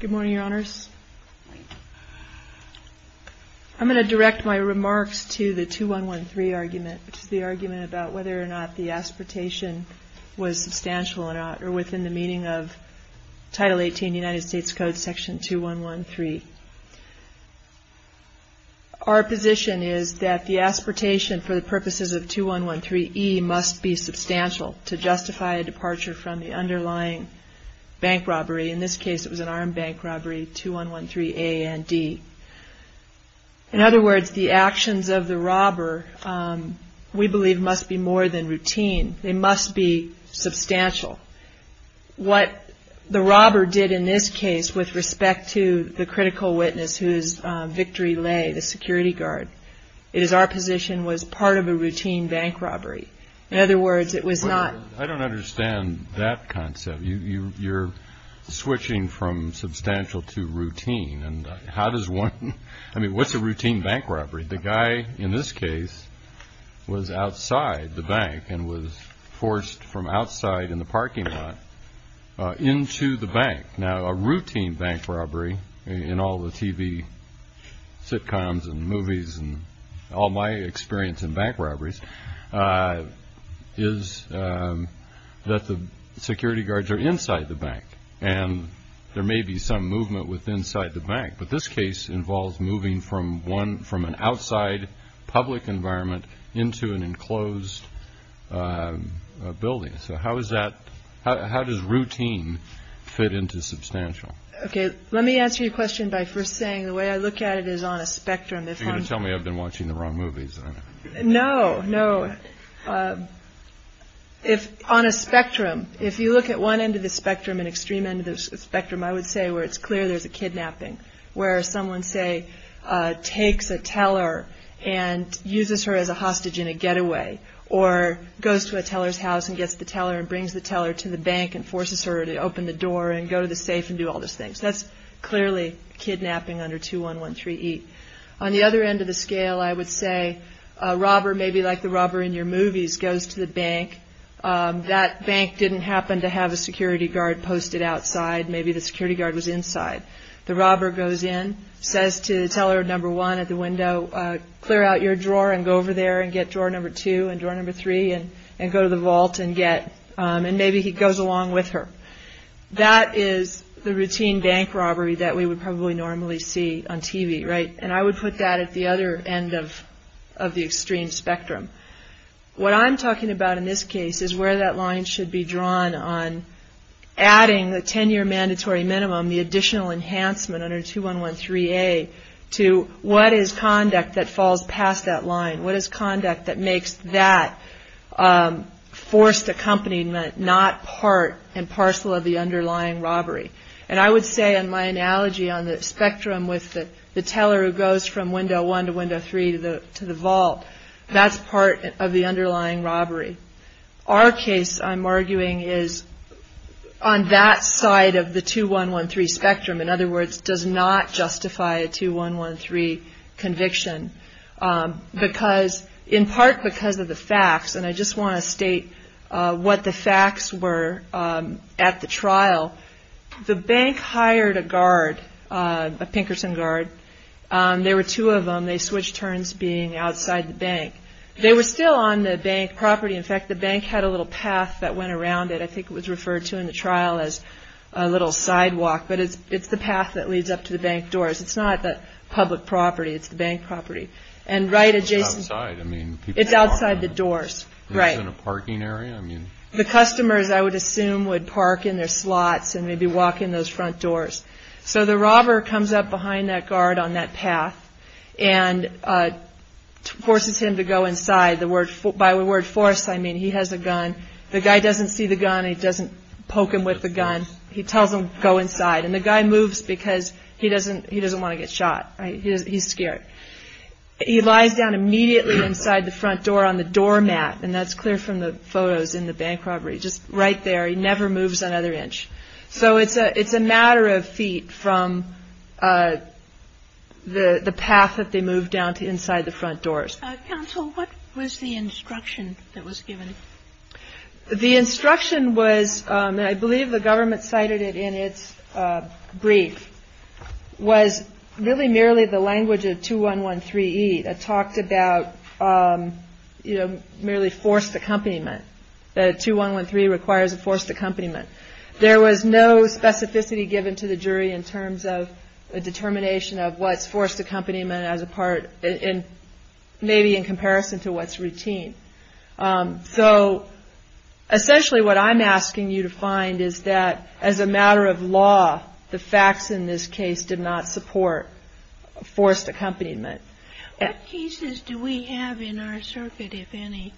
Good morning, Your Honors. I'm going to direct my remarks to the 2113 argument, which is the argument about whether or not the aspiratation was substantial or not, or within the meaning of Title 18 of the United States Code, Section 2113. Our position is that the aspiratation for the purposes of 2113E must be substantial to justify a departure from the underlying bank robbery. In this case, it was an armed bank robbery, 2113A and D. In other words, the actions of the robber, we believe, must be more than routine. They must be substantial. What the robber did in this case with respect to the critical witness whose victory lay, the security guard, is our position was part of a routine bank robbery. I don't understand that concept. You're switching from substantial to routine. What's a routine bank robbery? The guy in this case was outside the bank and was forced from outside in the parking lot into the bank. Now, a routine bank robbery in all the TV sitcoms and movies and all my experience in bank robberies is that the security guards are inside the bank. There may be some movement inside the bank, but this case involves moving from an outside public environment into an enclosed building. How does routine fit into substantial? Let me answer your question by first saying the way I look at it is on a spectrum. You're going to tell me I've been watching the wrong movies. No, no. On a spectrum, if you look at one end of the spectrum, an extreme end of the spectrum, I would say where it's clear there's a kidnapping, where someone, say, takes a teller and uses her as a hostage in a getaway or goes to a teller's house and gets the teller and brings the teller to the bank and forces her to open the door and go to the safe and do all those things. That's clearly kidnapping under 2-1-1-3-E. On the other end of the scale, I would say a robber, maybe like the robber in your movies, goes to the bank. That bank didn't happen to have a security guard posted outside. Maybe the security guard was inside. The robber goes in, says to teller number one at the window, clear out your drawer and go over there and get drawer number two and drawer number three and go to the vault and maybe he goes along with her. That is the routine bank robbery that we would probably normally see on TV, right? And I would put that at the other end of the extreme spectrum. What I'm talking about in this case is where that line should be drawn on adding the 10-year mandatory minimum, the additional enhancement under 2-1-1-3-A, to what is conduct that falls past that line? What is conduct that makes that forced accompaniment not part and parcel of the underlying robbery? And I would say in my analogy on the spectrum with the teller who goes from window one to window three to the vault, that's part of the underlying robbery. Our case I'm arguing is on that side of the 2-1-1-3 spectrum. In other words, does not justify a 2-1-1-3 conviction because in part because of the facts. And I just want to state what the facts were at the trial. The bank hired a guard, a Pinkerton guard. There were two of them. They switched turns being outside the bank. They were still on the bank property. In fact, the bank had a little path that went around it. I think it was referred to in the trial as a little sidewalk. But it's the path that leads up to the bank doors. It's not the public property. It's the bank property. And right adjacent... It's outside. I mean... It's outside the doors. Right. Is it a parking area? I mean... The customers, I would assume, would park in their slots and maybe walk in those front doors. So the robber comes up behind that guard on that path and forces him to go inside. By the word force, I mean he has a gun. The guy doesn't see the gun. He doesn't poke him with the gun. He tells him to go inside. And the guy moves because he doesn't want to get shot. He's scared. He lies down immediately inside the front door on the doormat. And that's clear from the photos in the bank property. Just right there. He never moves another inch. So it's a matter of feet from the path that they move down to inside the front doors. Counsel, what was the instruction that was given? The instruction was, and I believe the government cited it in its brief, was really merely the language of 2113E that talked about merely forced accompaniment. 2113 requires a forced accompaniment. There was no specificity given to the jury in terms of a determination of what's forced accompaniment as a part maybe in comparison to what's routine. So essentially what I'm asking you to find is that as a matter of law, the facts in this case did not support forced accompaniment. What cases do we have in our circuit, if any?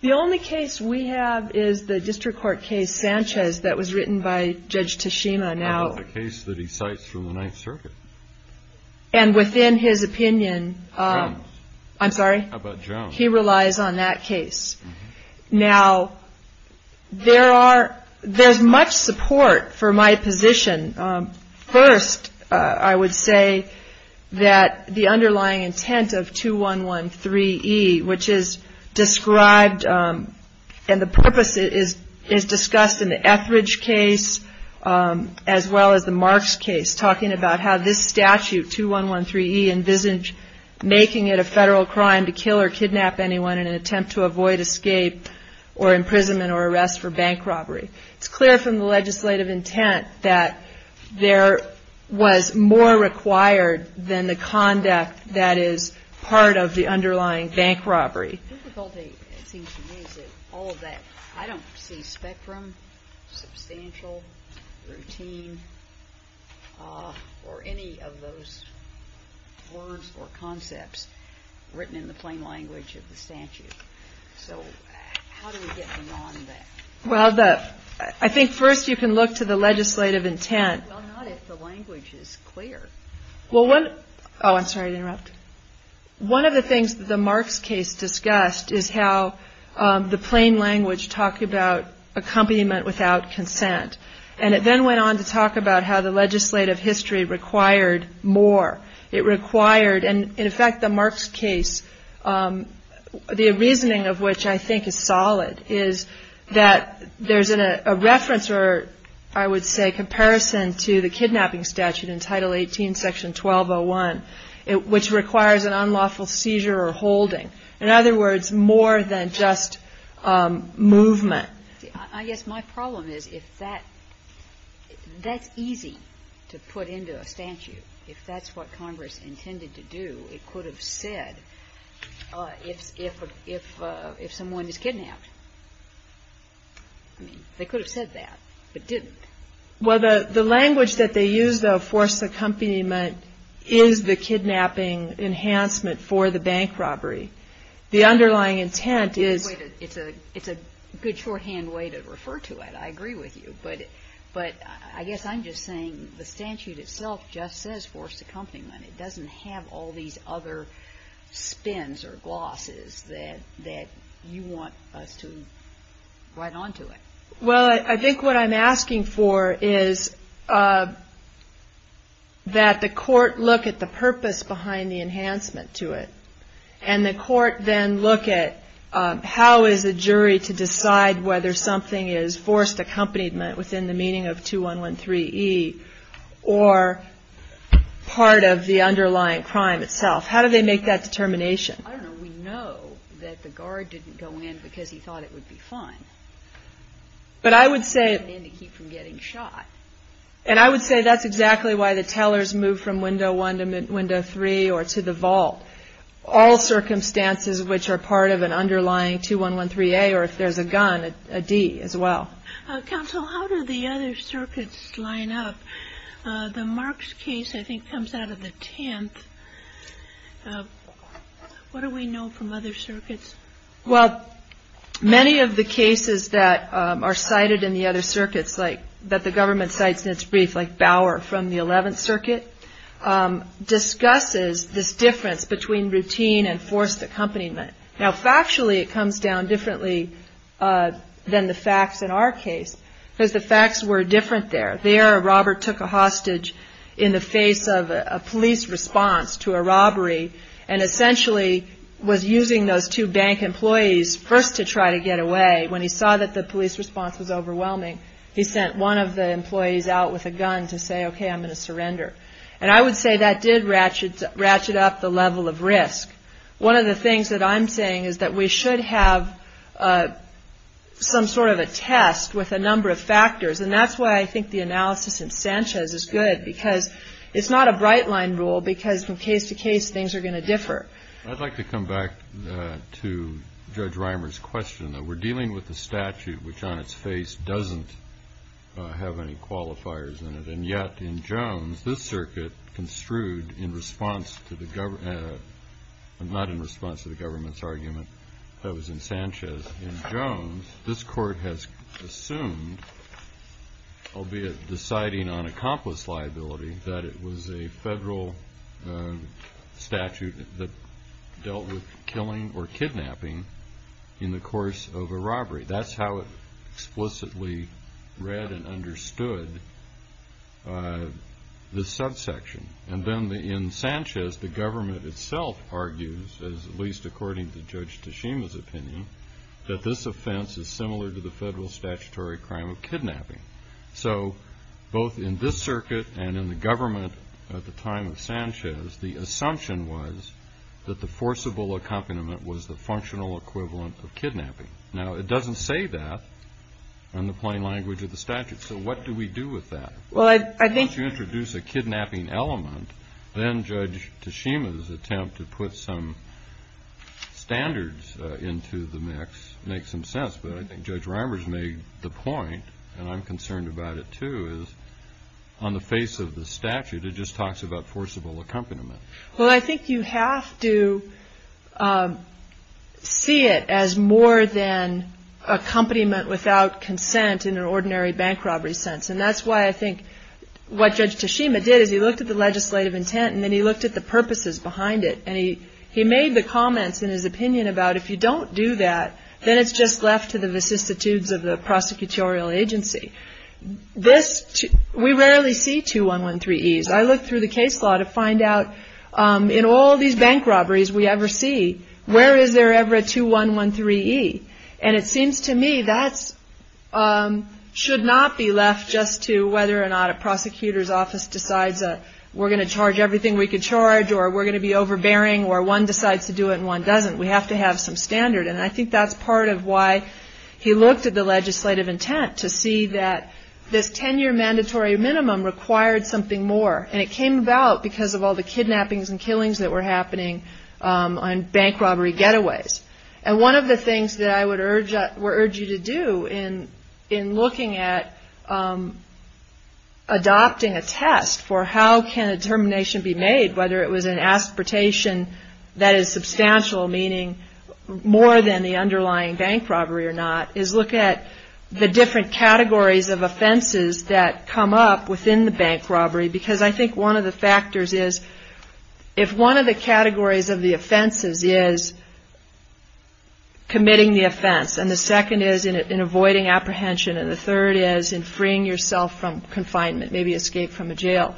The only case we have is the district court case Sanchez that was written by Judge Tashima. The case that he cites from the Ninth Circuit. And within his opinion, I'm sorry? How about Jones? He relies on that case. Now, there's much support for my position. First, I would say that the underlying intent of 2113E, which is described, and the purpose is discussed in the Etheridge case as well as the Marks case, talking about how this statute, 2113E, envisage making it a federal crime to kill or kidnap anyone in an attempt to avoid escape or imprisonment or arrest for bank robbery. It's clear from the legislative intent that there was more required than the conduct that is part of the underlying bank robbery. It seems to me that all of that, I don't see spectrum, substantial, routine, or any of those words or concepts written in the plain language of the statute. So how do we get beyond that? Well, I think first you can look to the legislative intent. Well, not if the language is clear. Oh, I'm sorry to interrupt. One of the things that the Marks case discussed is how the plain language talked about accompaniment without consent, and it then went on to talk about how the legislative history required more. It required, and in fact the Marks case, the reasoning of which I think is solid, is that there's a reference, or I would say comparison, to the kidnapping statute in Title 18, Section 1201, which requires an unlawful seizure or holding. In other words, more than just movement. I guess my problem is if that's easy to put into a statute, if that's what Congress intended to do, it could have said if someone is kidnapped. I mean, they could have said that, but didn't. Well, the language that they used, though, forced accompaniment is the kidnapping enhancement for the bank robbery. The underlying intent is. It's a good shorthand way to refer to it. I agree with you. But I guess I'm just saying the statute itself just says forced accompaniment. It doesn't have all these other spins or glosses that you want us to write on to it. Well, I think what I'm asking for is that the court look at the purpose behind the enhancement to it, and the court then look at how is a jury to decide whether something is forced accompaniment within the meaning of 2113E or part of the underlying crime itself. How do they make that determination? I don't know. We know that the guard didn't go in because he thought it would be fun. But I would say. To keep from getting shot. And I would say that's exactly why the tellers move from window one to window three or to the vault. All circumstances which are part of an underlying 2113A or if there's a gun, a D as well. Counsel, how do the other circuits line up? Mark's case, I think, comes out of the 10th. What do we know from other circuits? Well, many of the cases that are cited in the other circuits, like that the government cites in its brief, like Bauer from the 11th Circuit, discusses this difference between routine and forced accompaniment. Now, factually, it comes down differently than the facts in our case because the facts were different there. There, Robert took a hostage in the face of a police response to a robbery and essentially was using those two bank employees first to try to get away. When he saw that the police response was overwhelming, he sent one of the employees out with a gun to say, okay, I'm going to surrender. And I would say that did ratchet up the level of risk. One of the things that I'm saying is that we should have some sort of a test with a number of factors. And that's why I think the analysis in Sanchez is good because it's not a bright-line rule because from case to case, things are going to differ. I'd like to come back to Judge Reimer's question. We're dealing with a statute which on its face doesn't have any qualifiers in it. And yet in Jones, this circuit construed in response to the government, not in response to the government's argument that was in Sanchez. In Jones, this court has assumed, albeit deciding on accomplice liability, that it was a federal statute that dealt with killing or kidnapping in the course of a robbery. That's how it explicitly read and understood this subsection. And then in Sanchez, the government itself argues, at least according to Judge Tashima's opinion, that this offense is similar to the federal statutory crime of kidnapping. So both in this circuit and in the government at the time of Sanchez, the assumption was that the forcible accompaniment was the functional equivalent of kidnapping. Now, it doesn't say that in the plain language of the statute. So what do we do with that? Well, I think- Once you introduce a kidnapping element, then Judge Tashima's attempt to put some standards into the mix makes some sense. But I think Judge Reimer's made the point, and I'm concerned about it too, is on the face of the statute it just talks about forcible accompaniment. Well, I think you have to see it as more than accompaniment without consent in an ordinary bank robbery sense. And that's why I think what Judge Tashima did is he looked at the legislative intent and then he looked at the purposes behind it. And he made the comments in his opinion about if you don't do that, then it's just left to the vicissitudes of the prosecutorial agency. We rarely see 2113Es. I looked through the case law to find out in all these bank robberies we ever see, where is there ever a 2113E? And it seems to me that should not be left just to whether or not a prosecutor's office decides that we're going to charge everything we could charge, or we're going to be overbearing, or one decides to do it and one doesn't. We have to have some standard. And I think that's part of why he looked at the legislative intent, to see that this 10-year mandatory minimum required something more. And it came about because of all the kidnappings and killings that were happening on bank robbery getaways. And one of the things that I would urge you to do in looking at adopting a test for how can a termination be made, whether it was an aspartation that is substantial, meaning more than the underlying bank robbery or not, is look at the different categories of offenses that come up within the bank robbery. Because I think one of the factors is if one of the categories of the offenses is committing the offense, and the second is in avoiding apprehension, and the third is in freeing yourself from confinement, maybe escape from a jail,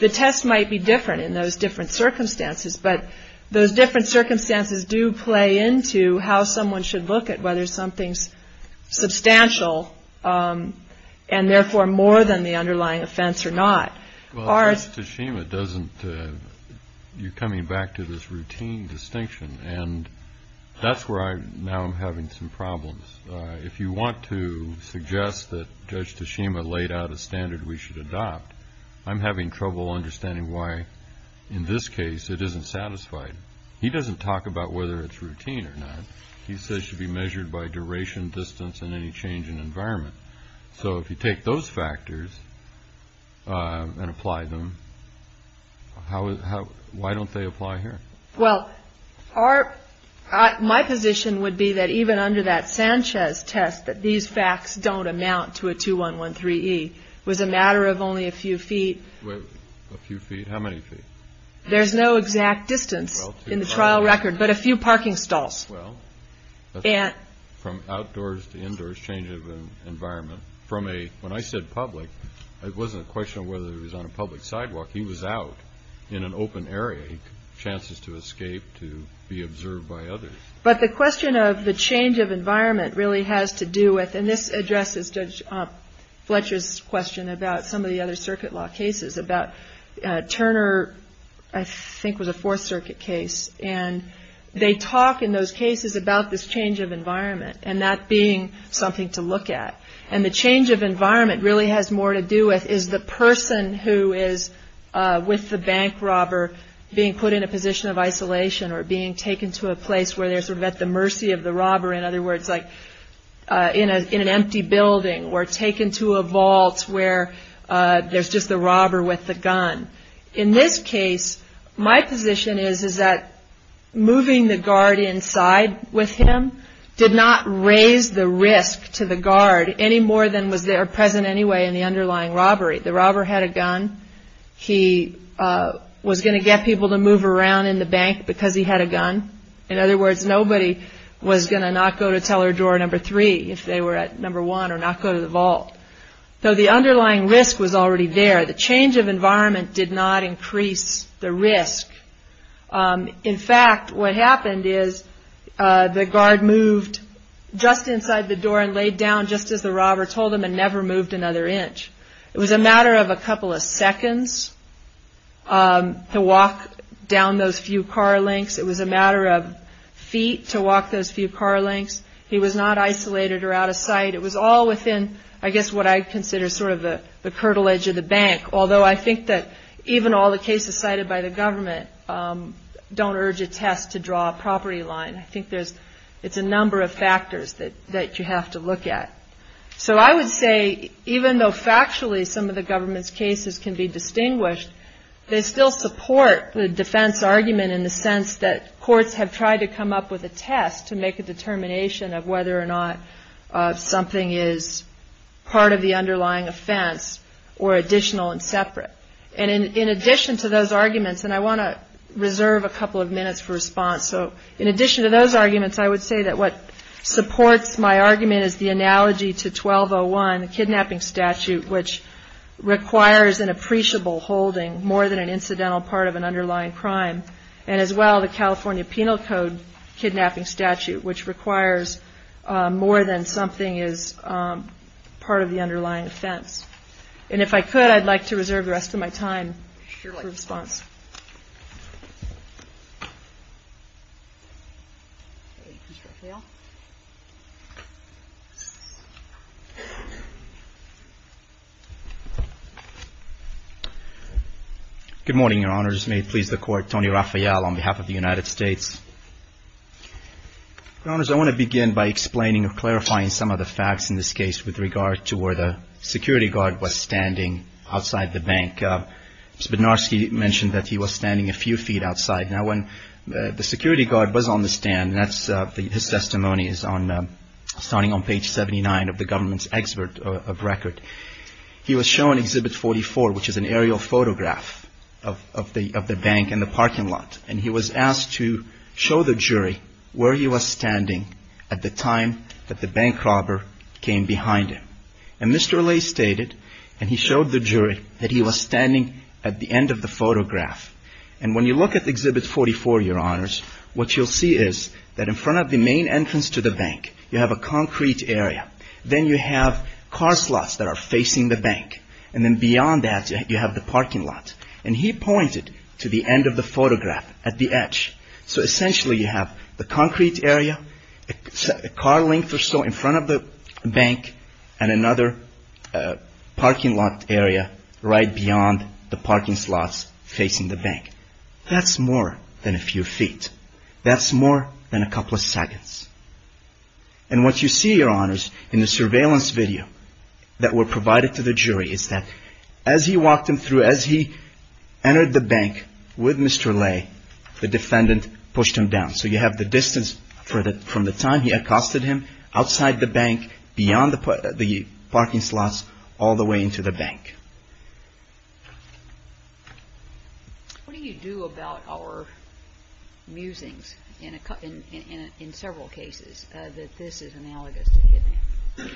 the test might be different in those different circumstances. But those different circumstances do play into how someone should look at whether something's substantial and therefore more than the underlying offense or not. Well, Judge Tashima doesn't, you're coming back to this routine distinction. And that's where I now am having some problems. If you want to suggest that Judge Tashima laid out a standard we should adopt, I'm having trouble understanding why in this case it isn't satisfied. He doesn't talk about whether it's routine or not. He says it should be measured by duration, distance, and any change in environment. So if you take those factors and apply them, why don't they apply here? Well, my position would be that even under that Sanchez test, that these facts don't amount to a 2113E. It was a matter of only a few feet. A few feet? How many feet? There's no exact distance in the trial record, but a few parking stalls. Well, from outdoors to indoors, change of environment. When I said public, it wasn't a question of whether he was on a public sidewalk. He was out in an open area. Chances to escape, to be observed by others. But the question of the change of environment really has to do with, and this addresses Judge Fletcher's question about some of the other circuit law cases, about Turner, I think was a Fourth Circuit case. And they talk in those cases about this change of environment, and that being something to look at. And the change of environment really has more to do with, is the person who is with the bank robber being put in a position of isolation or being taken to a place where they're sort of at the mercy of the robber. In other words, like in an empty building or taken to a vault where there's just the robber with the gun. In this case, my position is that moving the guard inside with him did not raise the risk to the guard any more than was there present anyway in the underlying robbery. The robber had a gun. He was going to get people to move around in the bank because he had a gun. In other words, nobody was going to not go to teller drawer number three if they were at number one or not go to the vault. So the underlying risk was already there. The change of environment did not increase the risk. In fact, what happened is the guard moved just inside the door and laid down just as the robber told him and never moved another inch. It was a matter of a couple of seconds to walk down those few car lengths. It was a matter of feet to walk those few car lengths. He was not isolated or out of sight. It was all within, I guess, what I consider sort of the curtilage of the bank, although I think that even all the cases cited by the government don't urge a test to draw a property line. I think it's a number of factors that you have to look at. So I would say even though factually some of the government's cases can be distinguished, they still support the defense argument in the sense that courts have tried to come up with a test to make a determination of whether or not something is part of the underlying offense or additional and separate. And in addition to those arguments, and I want to reserve a couple of minutes for response, so in addition to those arguments, I would say that what supports my argument is the analogy to 1201, the kidnapping statute, which requires an appreciable holding more than an incidental part of an underlying crime, and as well the California Penal Code kidnapping statute, which requires more than something is part of the underlying offense. And if I could, I'd like to reserve the rest of my time for response. Thank you, Mr. Rafael. Good morning, Your Honors. May it please the Court, Tony Rafael on behalf of the United States. Your Honors, I want to begin by explaining or clarifying some of the facts in this case with regard to where the security guard was standing outside the bank. Mr. Bednarski mentioned that he was standing a few feet outside. Now, when the security guard was on the stand, and his testimony is starting on page 79 of the government's expert record, he was shown Exhibit 44, which is an aerial photograph of the bank and the parking lot, and he was asked to show the jury where he was standing at the time that the bank robber came behind him. And Mr. Allais stated, and he showed the jury, that he was standing at the end of the photograph. And when you look at Exhibit 44, Your Honors, what you'll see is that in front of the main entrance to the bank, you have a concrete area. Then you have car slots that are facing the bank. And then beyond that, you have the parking lot. And he pointed to the end of the photograph at the edge. So essentially, you have the concrete area, a car length or so in front of the bank, and another parking lot area right beyond the parking slots facing the bank. That's more than a few feet. That's more than a couple of seconds. And what you see, Your Honors, in the surveillance video that were provided to the jury, is that as he walked him through, as he entered the bank with Mr. Allais, the defendant pushed him down. So you have the distance from the time he accosted him, outside the bank, beyond the parking slots, all the way into the bank. What do you do about our musings in several cases that this is analogous to kidnapping?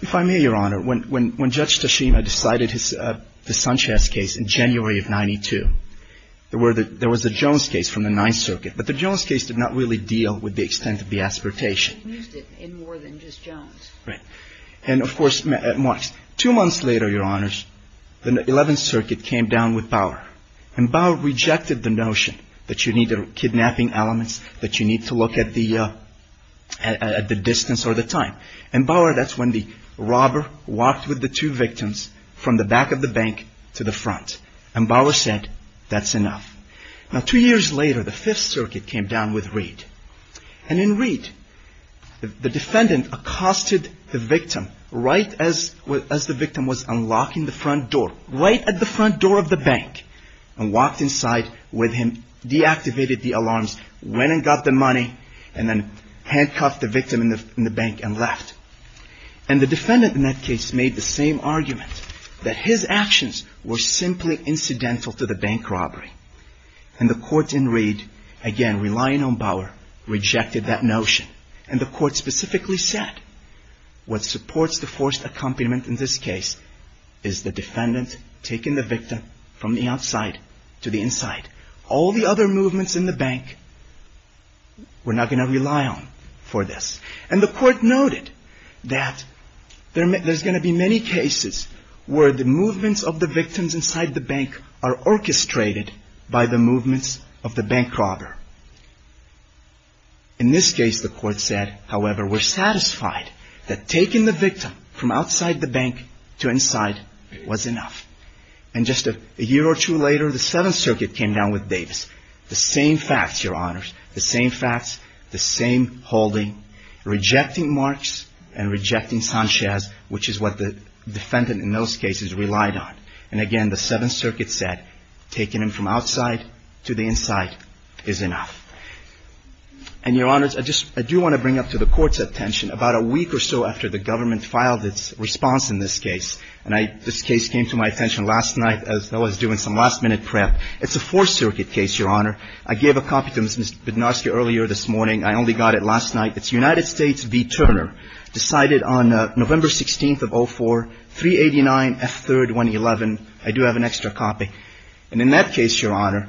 If I may, Your Honor, when Judge Toshima decided the Sanchez case in January of 92, there was a Jones case from the Ninth Circuit. But the Jones case did not really deal with the extent of the aspiratation. He used it in more than just Jones. Right. And, of course, two months later, Your Honors, the Eleventh Circuit came down with Bauer. And Bauer rejected the notion that you need kidnapping elements, that you need to look at the distance or the time. And Bauer, that's when the robber walked with the two victims from the back of the bank to the front. And Bauer said, that's enough. Now, two years later, the Fifth Circuit came down with Reed. And in Reed, the defendant accosted the victim right as the victim was unlocking the front door, right at the front door of the bank, and walked inside with him, deactivated the alarms, went and got the money, and then handcuffed the victim in the bank and left. And the defendant in that case made the same argument, that his actions were simply incidental to the bank robbery. And the court in Reed, again, relying on Bauer, rejected that notion. And the court specifically said, what supports the forced accompaniment in this case is the defendant taking the victim from the outside to the inside. All the other movements in the bank, we're not going to rely on for this. And the court noted that there's going to be many cases where the movements of the victims inside the bank are orchestrated by the movements of the bank robber. In this case, the court said, however, we're satisfied that taking the victim from outside the bank to inside was enough. And just a year or two later, the Seventh Circuit came down with Davis. The same facts, Your Honors, the same facts, the same holding, rejecting Marx and rejecting Sanchez, which is what the defendant in those cases relied on. And again, the Seventh Circuit said, taking him from outside to the inside is enough. And Your Honors, I do want to bring up to the court's attention, about a week or so after the government filed its response in this case, and this case came to my attention last night as I was doing some last-minute prep. It's a Fourth Circuit case, Your Honor. I gave a copy to Ms. Bednarski earlier this morning. I only got it last night. It's United States v. Turner, decided on November 16th of 04, 389F3-111. I do have an extra copy. And in that case, Your Honor,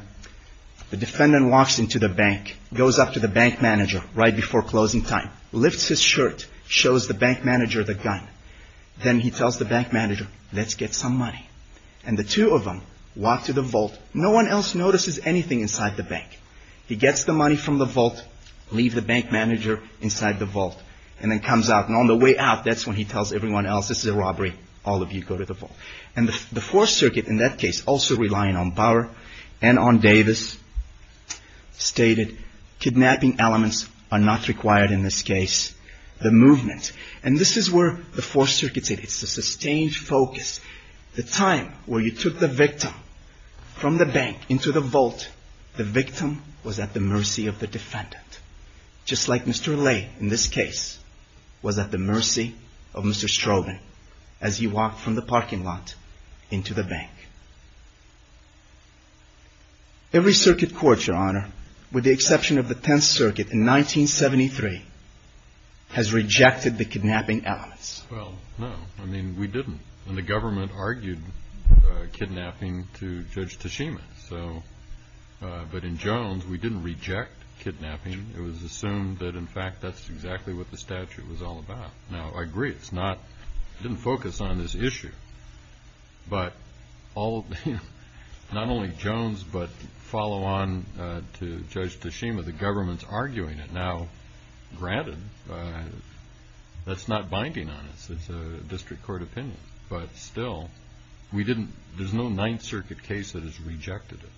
the defendant walks into the bank, goes up to the bank manager right before closing time, lifts his shirt, shows the bank manager the gun. Then he tells the bank manager, let's get some money. And the two of them walk to the vault. No one else notices anything inside the bank. He gets the money from the vault, leaves the bank manager inside the vault, and then comes out. And on the way out, that's when he tells everyone else, this is a robbery. All of you go to the vault. And the Fourth Circuit, in that case, also relying on Bauer and on Davis, stated, kidnapping elements are not required in this case. The movement. And this is where the Fourth Circuit's at. It's the sustained focus. The time where you took the victim from the bank into the vault, the victim was at the mercy of the defendant. Just like Mr. Lay, in this case, was at the mercy of Mr. Strogan as he walked from the parking lot into the bank. Every circuit court, Your Honor, with the exception of the Tenth Circuit in 1973, has rejected the kidnapping elements. Well, no. I mean, we didn't. And the government argued kidnapping to Judge Tashima. So, but in Jones, we didn't reject kidnapping. It was assumed that, in fact, that's exactly what the statute was all about. Now, I agree. I didn't focus on this issue. But not only Jones, but follow on to Judge Tashima, the government's arguing it now. Granted, that's not binding on us. It's a district court opinion. But still, we didn't. There's no Ninth Circuit case that has rejected it.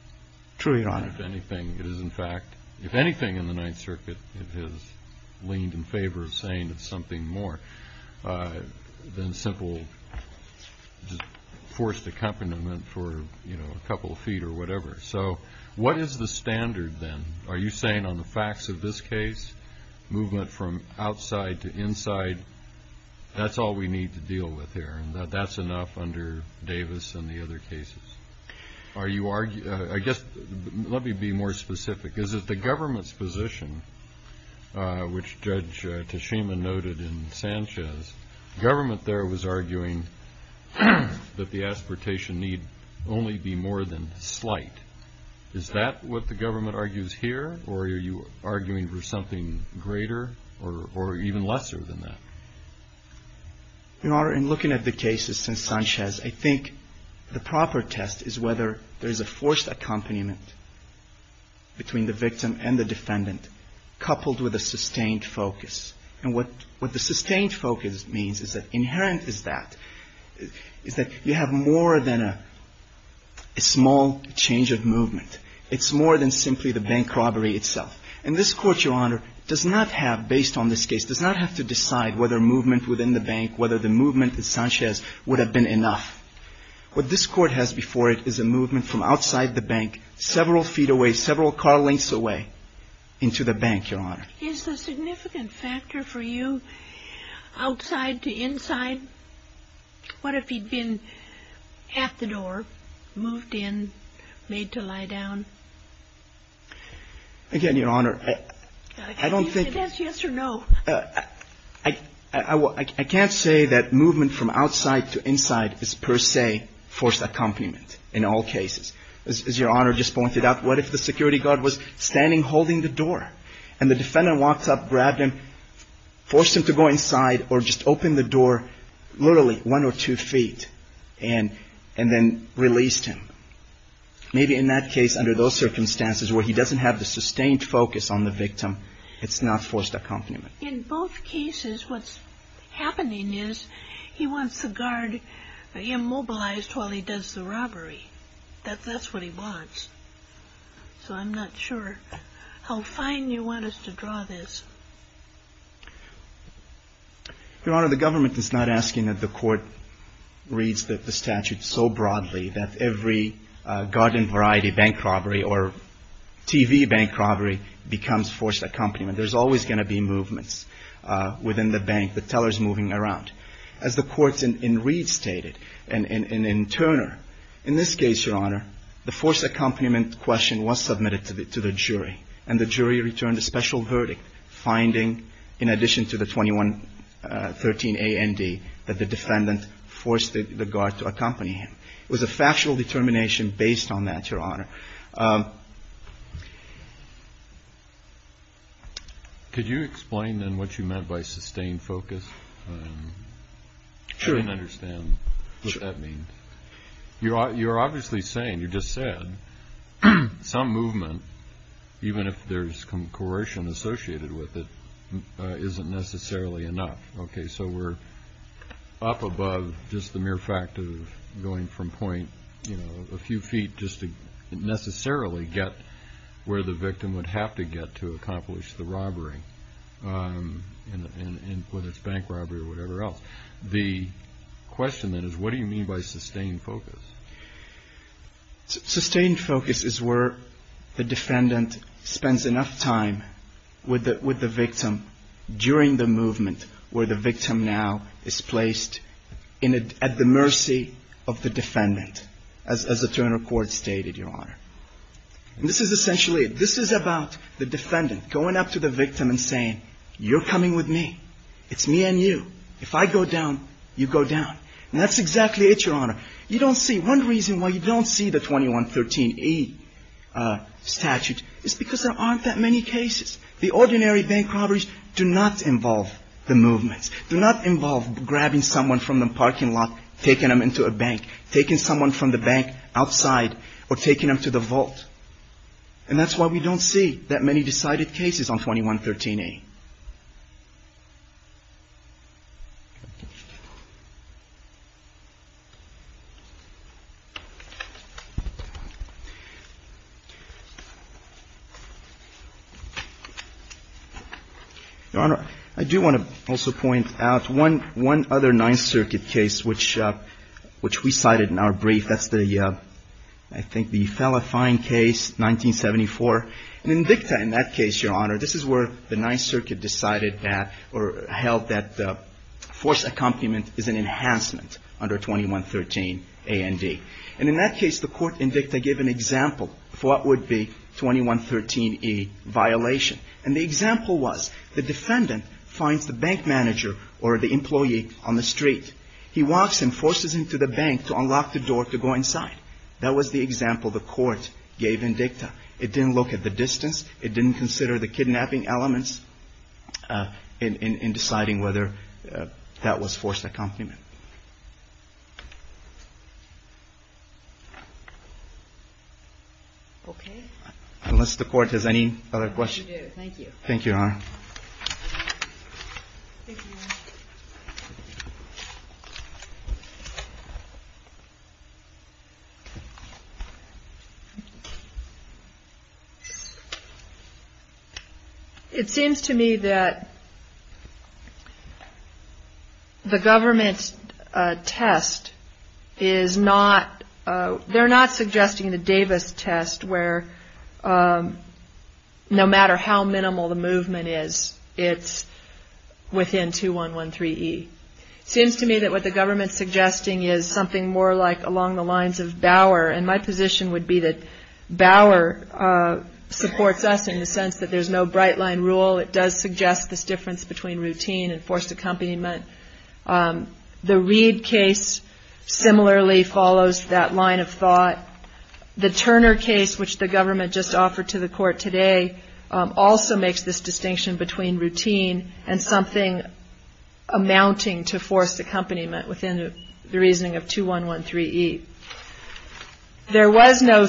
Truly, Your Honor. If anything in the Ninth Circuit, it has leaned in favor of saying it's something more than simple forced accompaniment for, you know, a couple of feet or whatever. So what is the standard then? Are you saying on the facts of this case, movement from outside to inside, that's all we need to deal with here and that that's enough under Davis and the other cases? I guess let me be more specific. Is it the government's position, which Judge Tashima noted in Sanchez, government there was arguing that the aspiration need only be more than slight. Is that what the government argues here? Or are you arguing for something greater or even lesser than that? In looking at the cases since Sanchez, I think the proper test is whether there is a forced accompaniment between the victim and the defendant coupled with a sustained focus. And what the sustained focus means is that inherent is that you have more than a small change of movement. It's more than simply the bank robbery itself. And this court, Your Honor, does not have, based on this case, does not have to decide whether movement within the bank, whether the movement in Sanchez would have been enough. What this court has before it is a movement from outside the bank, several feet away, several car lengths away into the bank, Your Honor. Is the significant factor for you outside to inside? What if he'd been at the door, moved in, made to lie down? Again, Your Honor, I don't think... Can you say yes or no? I can't say that movement from outside to inside is per se forced accompaniment in all cases. As Your Honor just pointed out, what if the security guard was standing holding the door and the defendant walked up, grabbed him, forced him to go inside or just open the door literally one or two feet and then released him? Maybe in that case, under those circumstances where he doesn't have the sustained focus on the victim, it's not forced accompaniment. In both cases, what's happening is he wants the guard immobilized while he does the robbery. That's what he wants. So I'm not sure how fine you want us to draw this. Your Honor, the government is not asking that the court reads the statute so broadly that every garden-variety bank robbery or TV bank robbery becomes forced accompaniment. There's always going to be movements within the bank, the tellers moving around. As the courts in Reed stated and in Turner, in this case, Your Honor, the forced accompaniment question was submitted to the jury, and the jury returned a special verdict finding, in addition to the 2113 A and D, that the defendant forced the guard to accompany him. It was a factual determination based on that, Your Honor. Could you explain then what you meant by sustained focus? I didn't understand what that means. You're obviously saying, you just said, some movement, even if there's coercion associated with it, isn't necessarily enough. Okay, so we're up above just the mere fact of going from point, you know, a few feet just to necessarily get where the victim would have to get to accomplish the robbery, whether it's bank robbery or whatever else. The question then is, what do you mean by sustained focus? Sustained focus is where the defendant spends enough time with the victim during the movement where the victim now is placed at the mercy of the defendant, as the Turner court stated, Your Honor. This is essentially, this is about the defendant going up to the victim and saying, you're coming with me. It's me and you. If I go down, you go down. And that's exactly it, Your Honor. You don't see, one reason why you don't see the 2113A statute is because there aren't that many cases. The ordinary bank robberies do not involve the movements, do not involve grabbing someone from the parking lot, taking them into a bank, taking someone from the bank outside or taking them to the vault. And that's why we don't see that many decided cases on 2113A. Your Honor, I do want to also point out one other Ninth Circuit case which we cited in our brief. That's the, I think, the Fella Fine case, 1974. In Invicta, in that case, Your Honor, this is where the Ninth Circuit decided that or held that force accompaniment is an enhancement under 2113A and D. And in that case, the court in Invicta gave an example of what would be 2113E violation. And the example was the defendant finds the bank manager or the employee on the street. He walks him, forces him to the bank to unlock the door to go inside. That was the example the court gave in Invicta. It didn't look at the distance. It didn't consider the kidnapping elements in deciding whether that was forced accompaniment. Okay. Unless the court has any other questions. I do. Thank you. Thank you, Your Honor. Thank you, Your Honor. It seems to me that the government's test is not, they're not suggesting the Davis test where no matter how minimal the movement is, it's within 2113E. It seems to me that what the government's suggesting is something more like along the lines of Bauer. And my position would be that Bauer supports us in the sense that there's no bright line rule. It does suggest this difference between routine and forced accompaniment. The Reed case similarly follows that line of thought. The Turner case, which the government just offered to the court today, also makes this distinction between routine and something amounting to forced accompaniment within the reasoning of 2113E. There was no,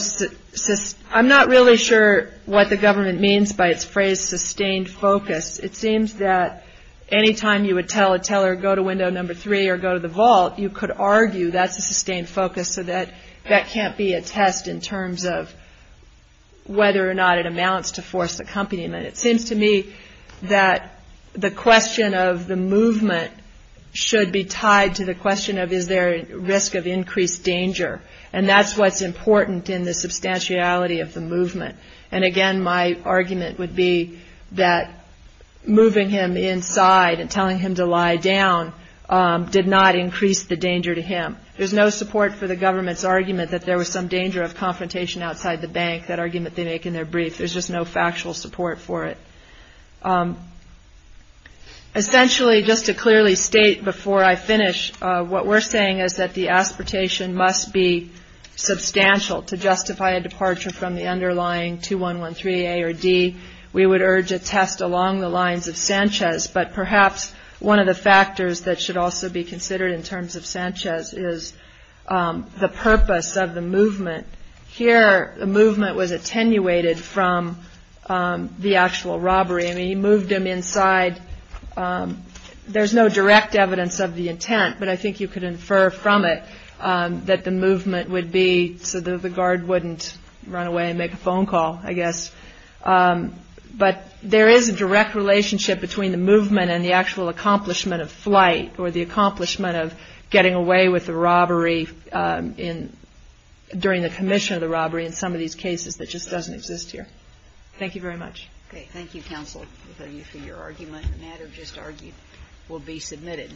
I'm not really sure what the government means by its phrase sustained focus. It seems that any time you would tell a teller go to window number three or go to the vault, you could argue that's a sustained focus so that that can't be a test in terms of whether or not it amounts to forced accompaniment. It seems to me that the question of the movement should be tied to the question of is there a risk of increased danger. And that's what's important in the substantiality of the movement. And again, my argument would be that moving him inside and telling him to lie down did not increase the danger to him. There's no support for the government's argument that there was some danger of confrontation outside the bank, that argument they make in their brief. There's just no factual support for it. Essentially, just to clearly state before I finish, what we're saying is that the aspartation must be substantial to justify a departure from the underlying 2113A or D. We would urge a test along the lines of Sanchez. But perhaps one of the factors that should also be considered in terms of Sanchez is the purpose of the movement. Here, the movement was attenuated from the actual robbery. I mean, he moved him inside. There's no direct evidence of the intent, but I think you could infer from it that the movement would be so that the guard wouldn't run away and make a phone call, I guess. But there is a direct relationship between the movement and the actual accomplishment of flight or the accomplishment of getting away with the robbery during the commission of the robbery in some of these cases that just doesn't exist here. Thank you very much. Thank you, counsel, for your argument. The matter just argued will be submitted.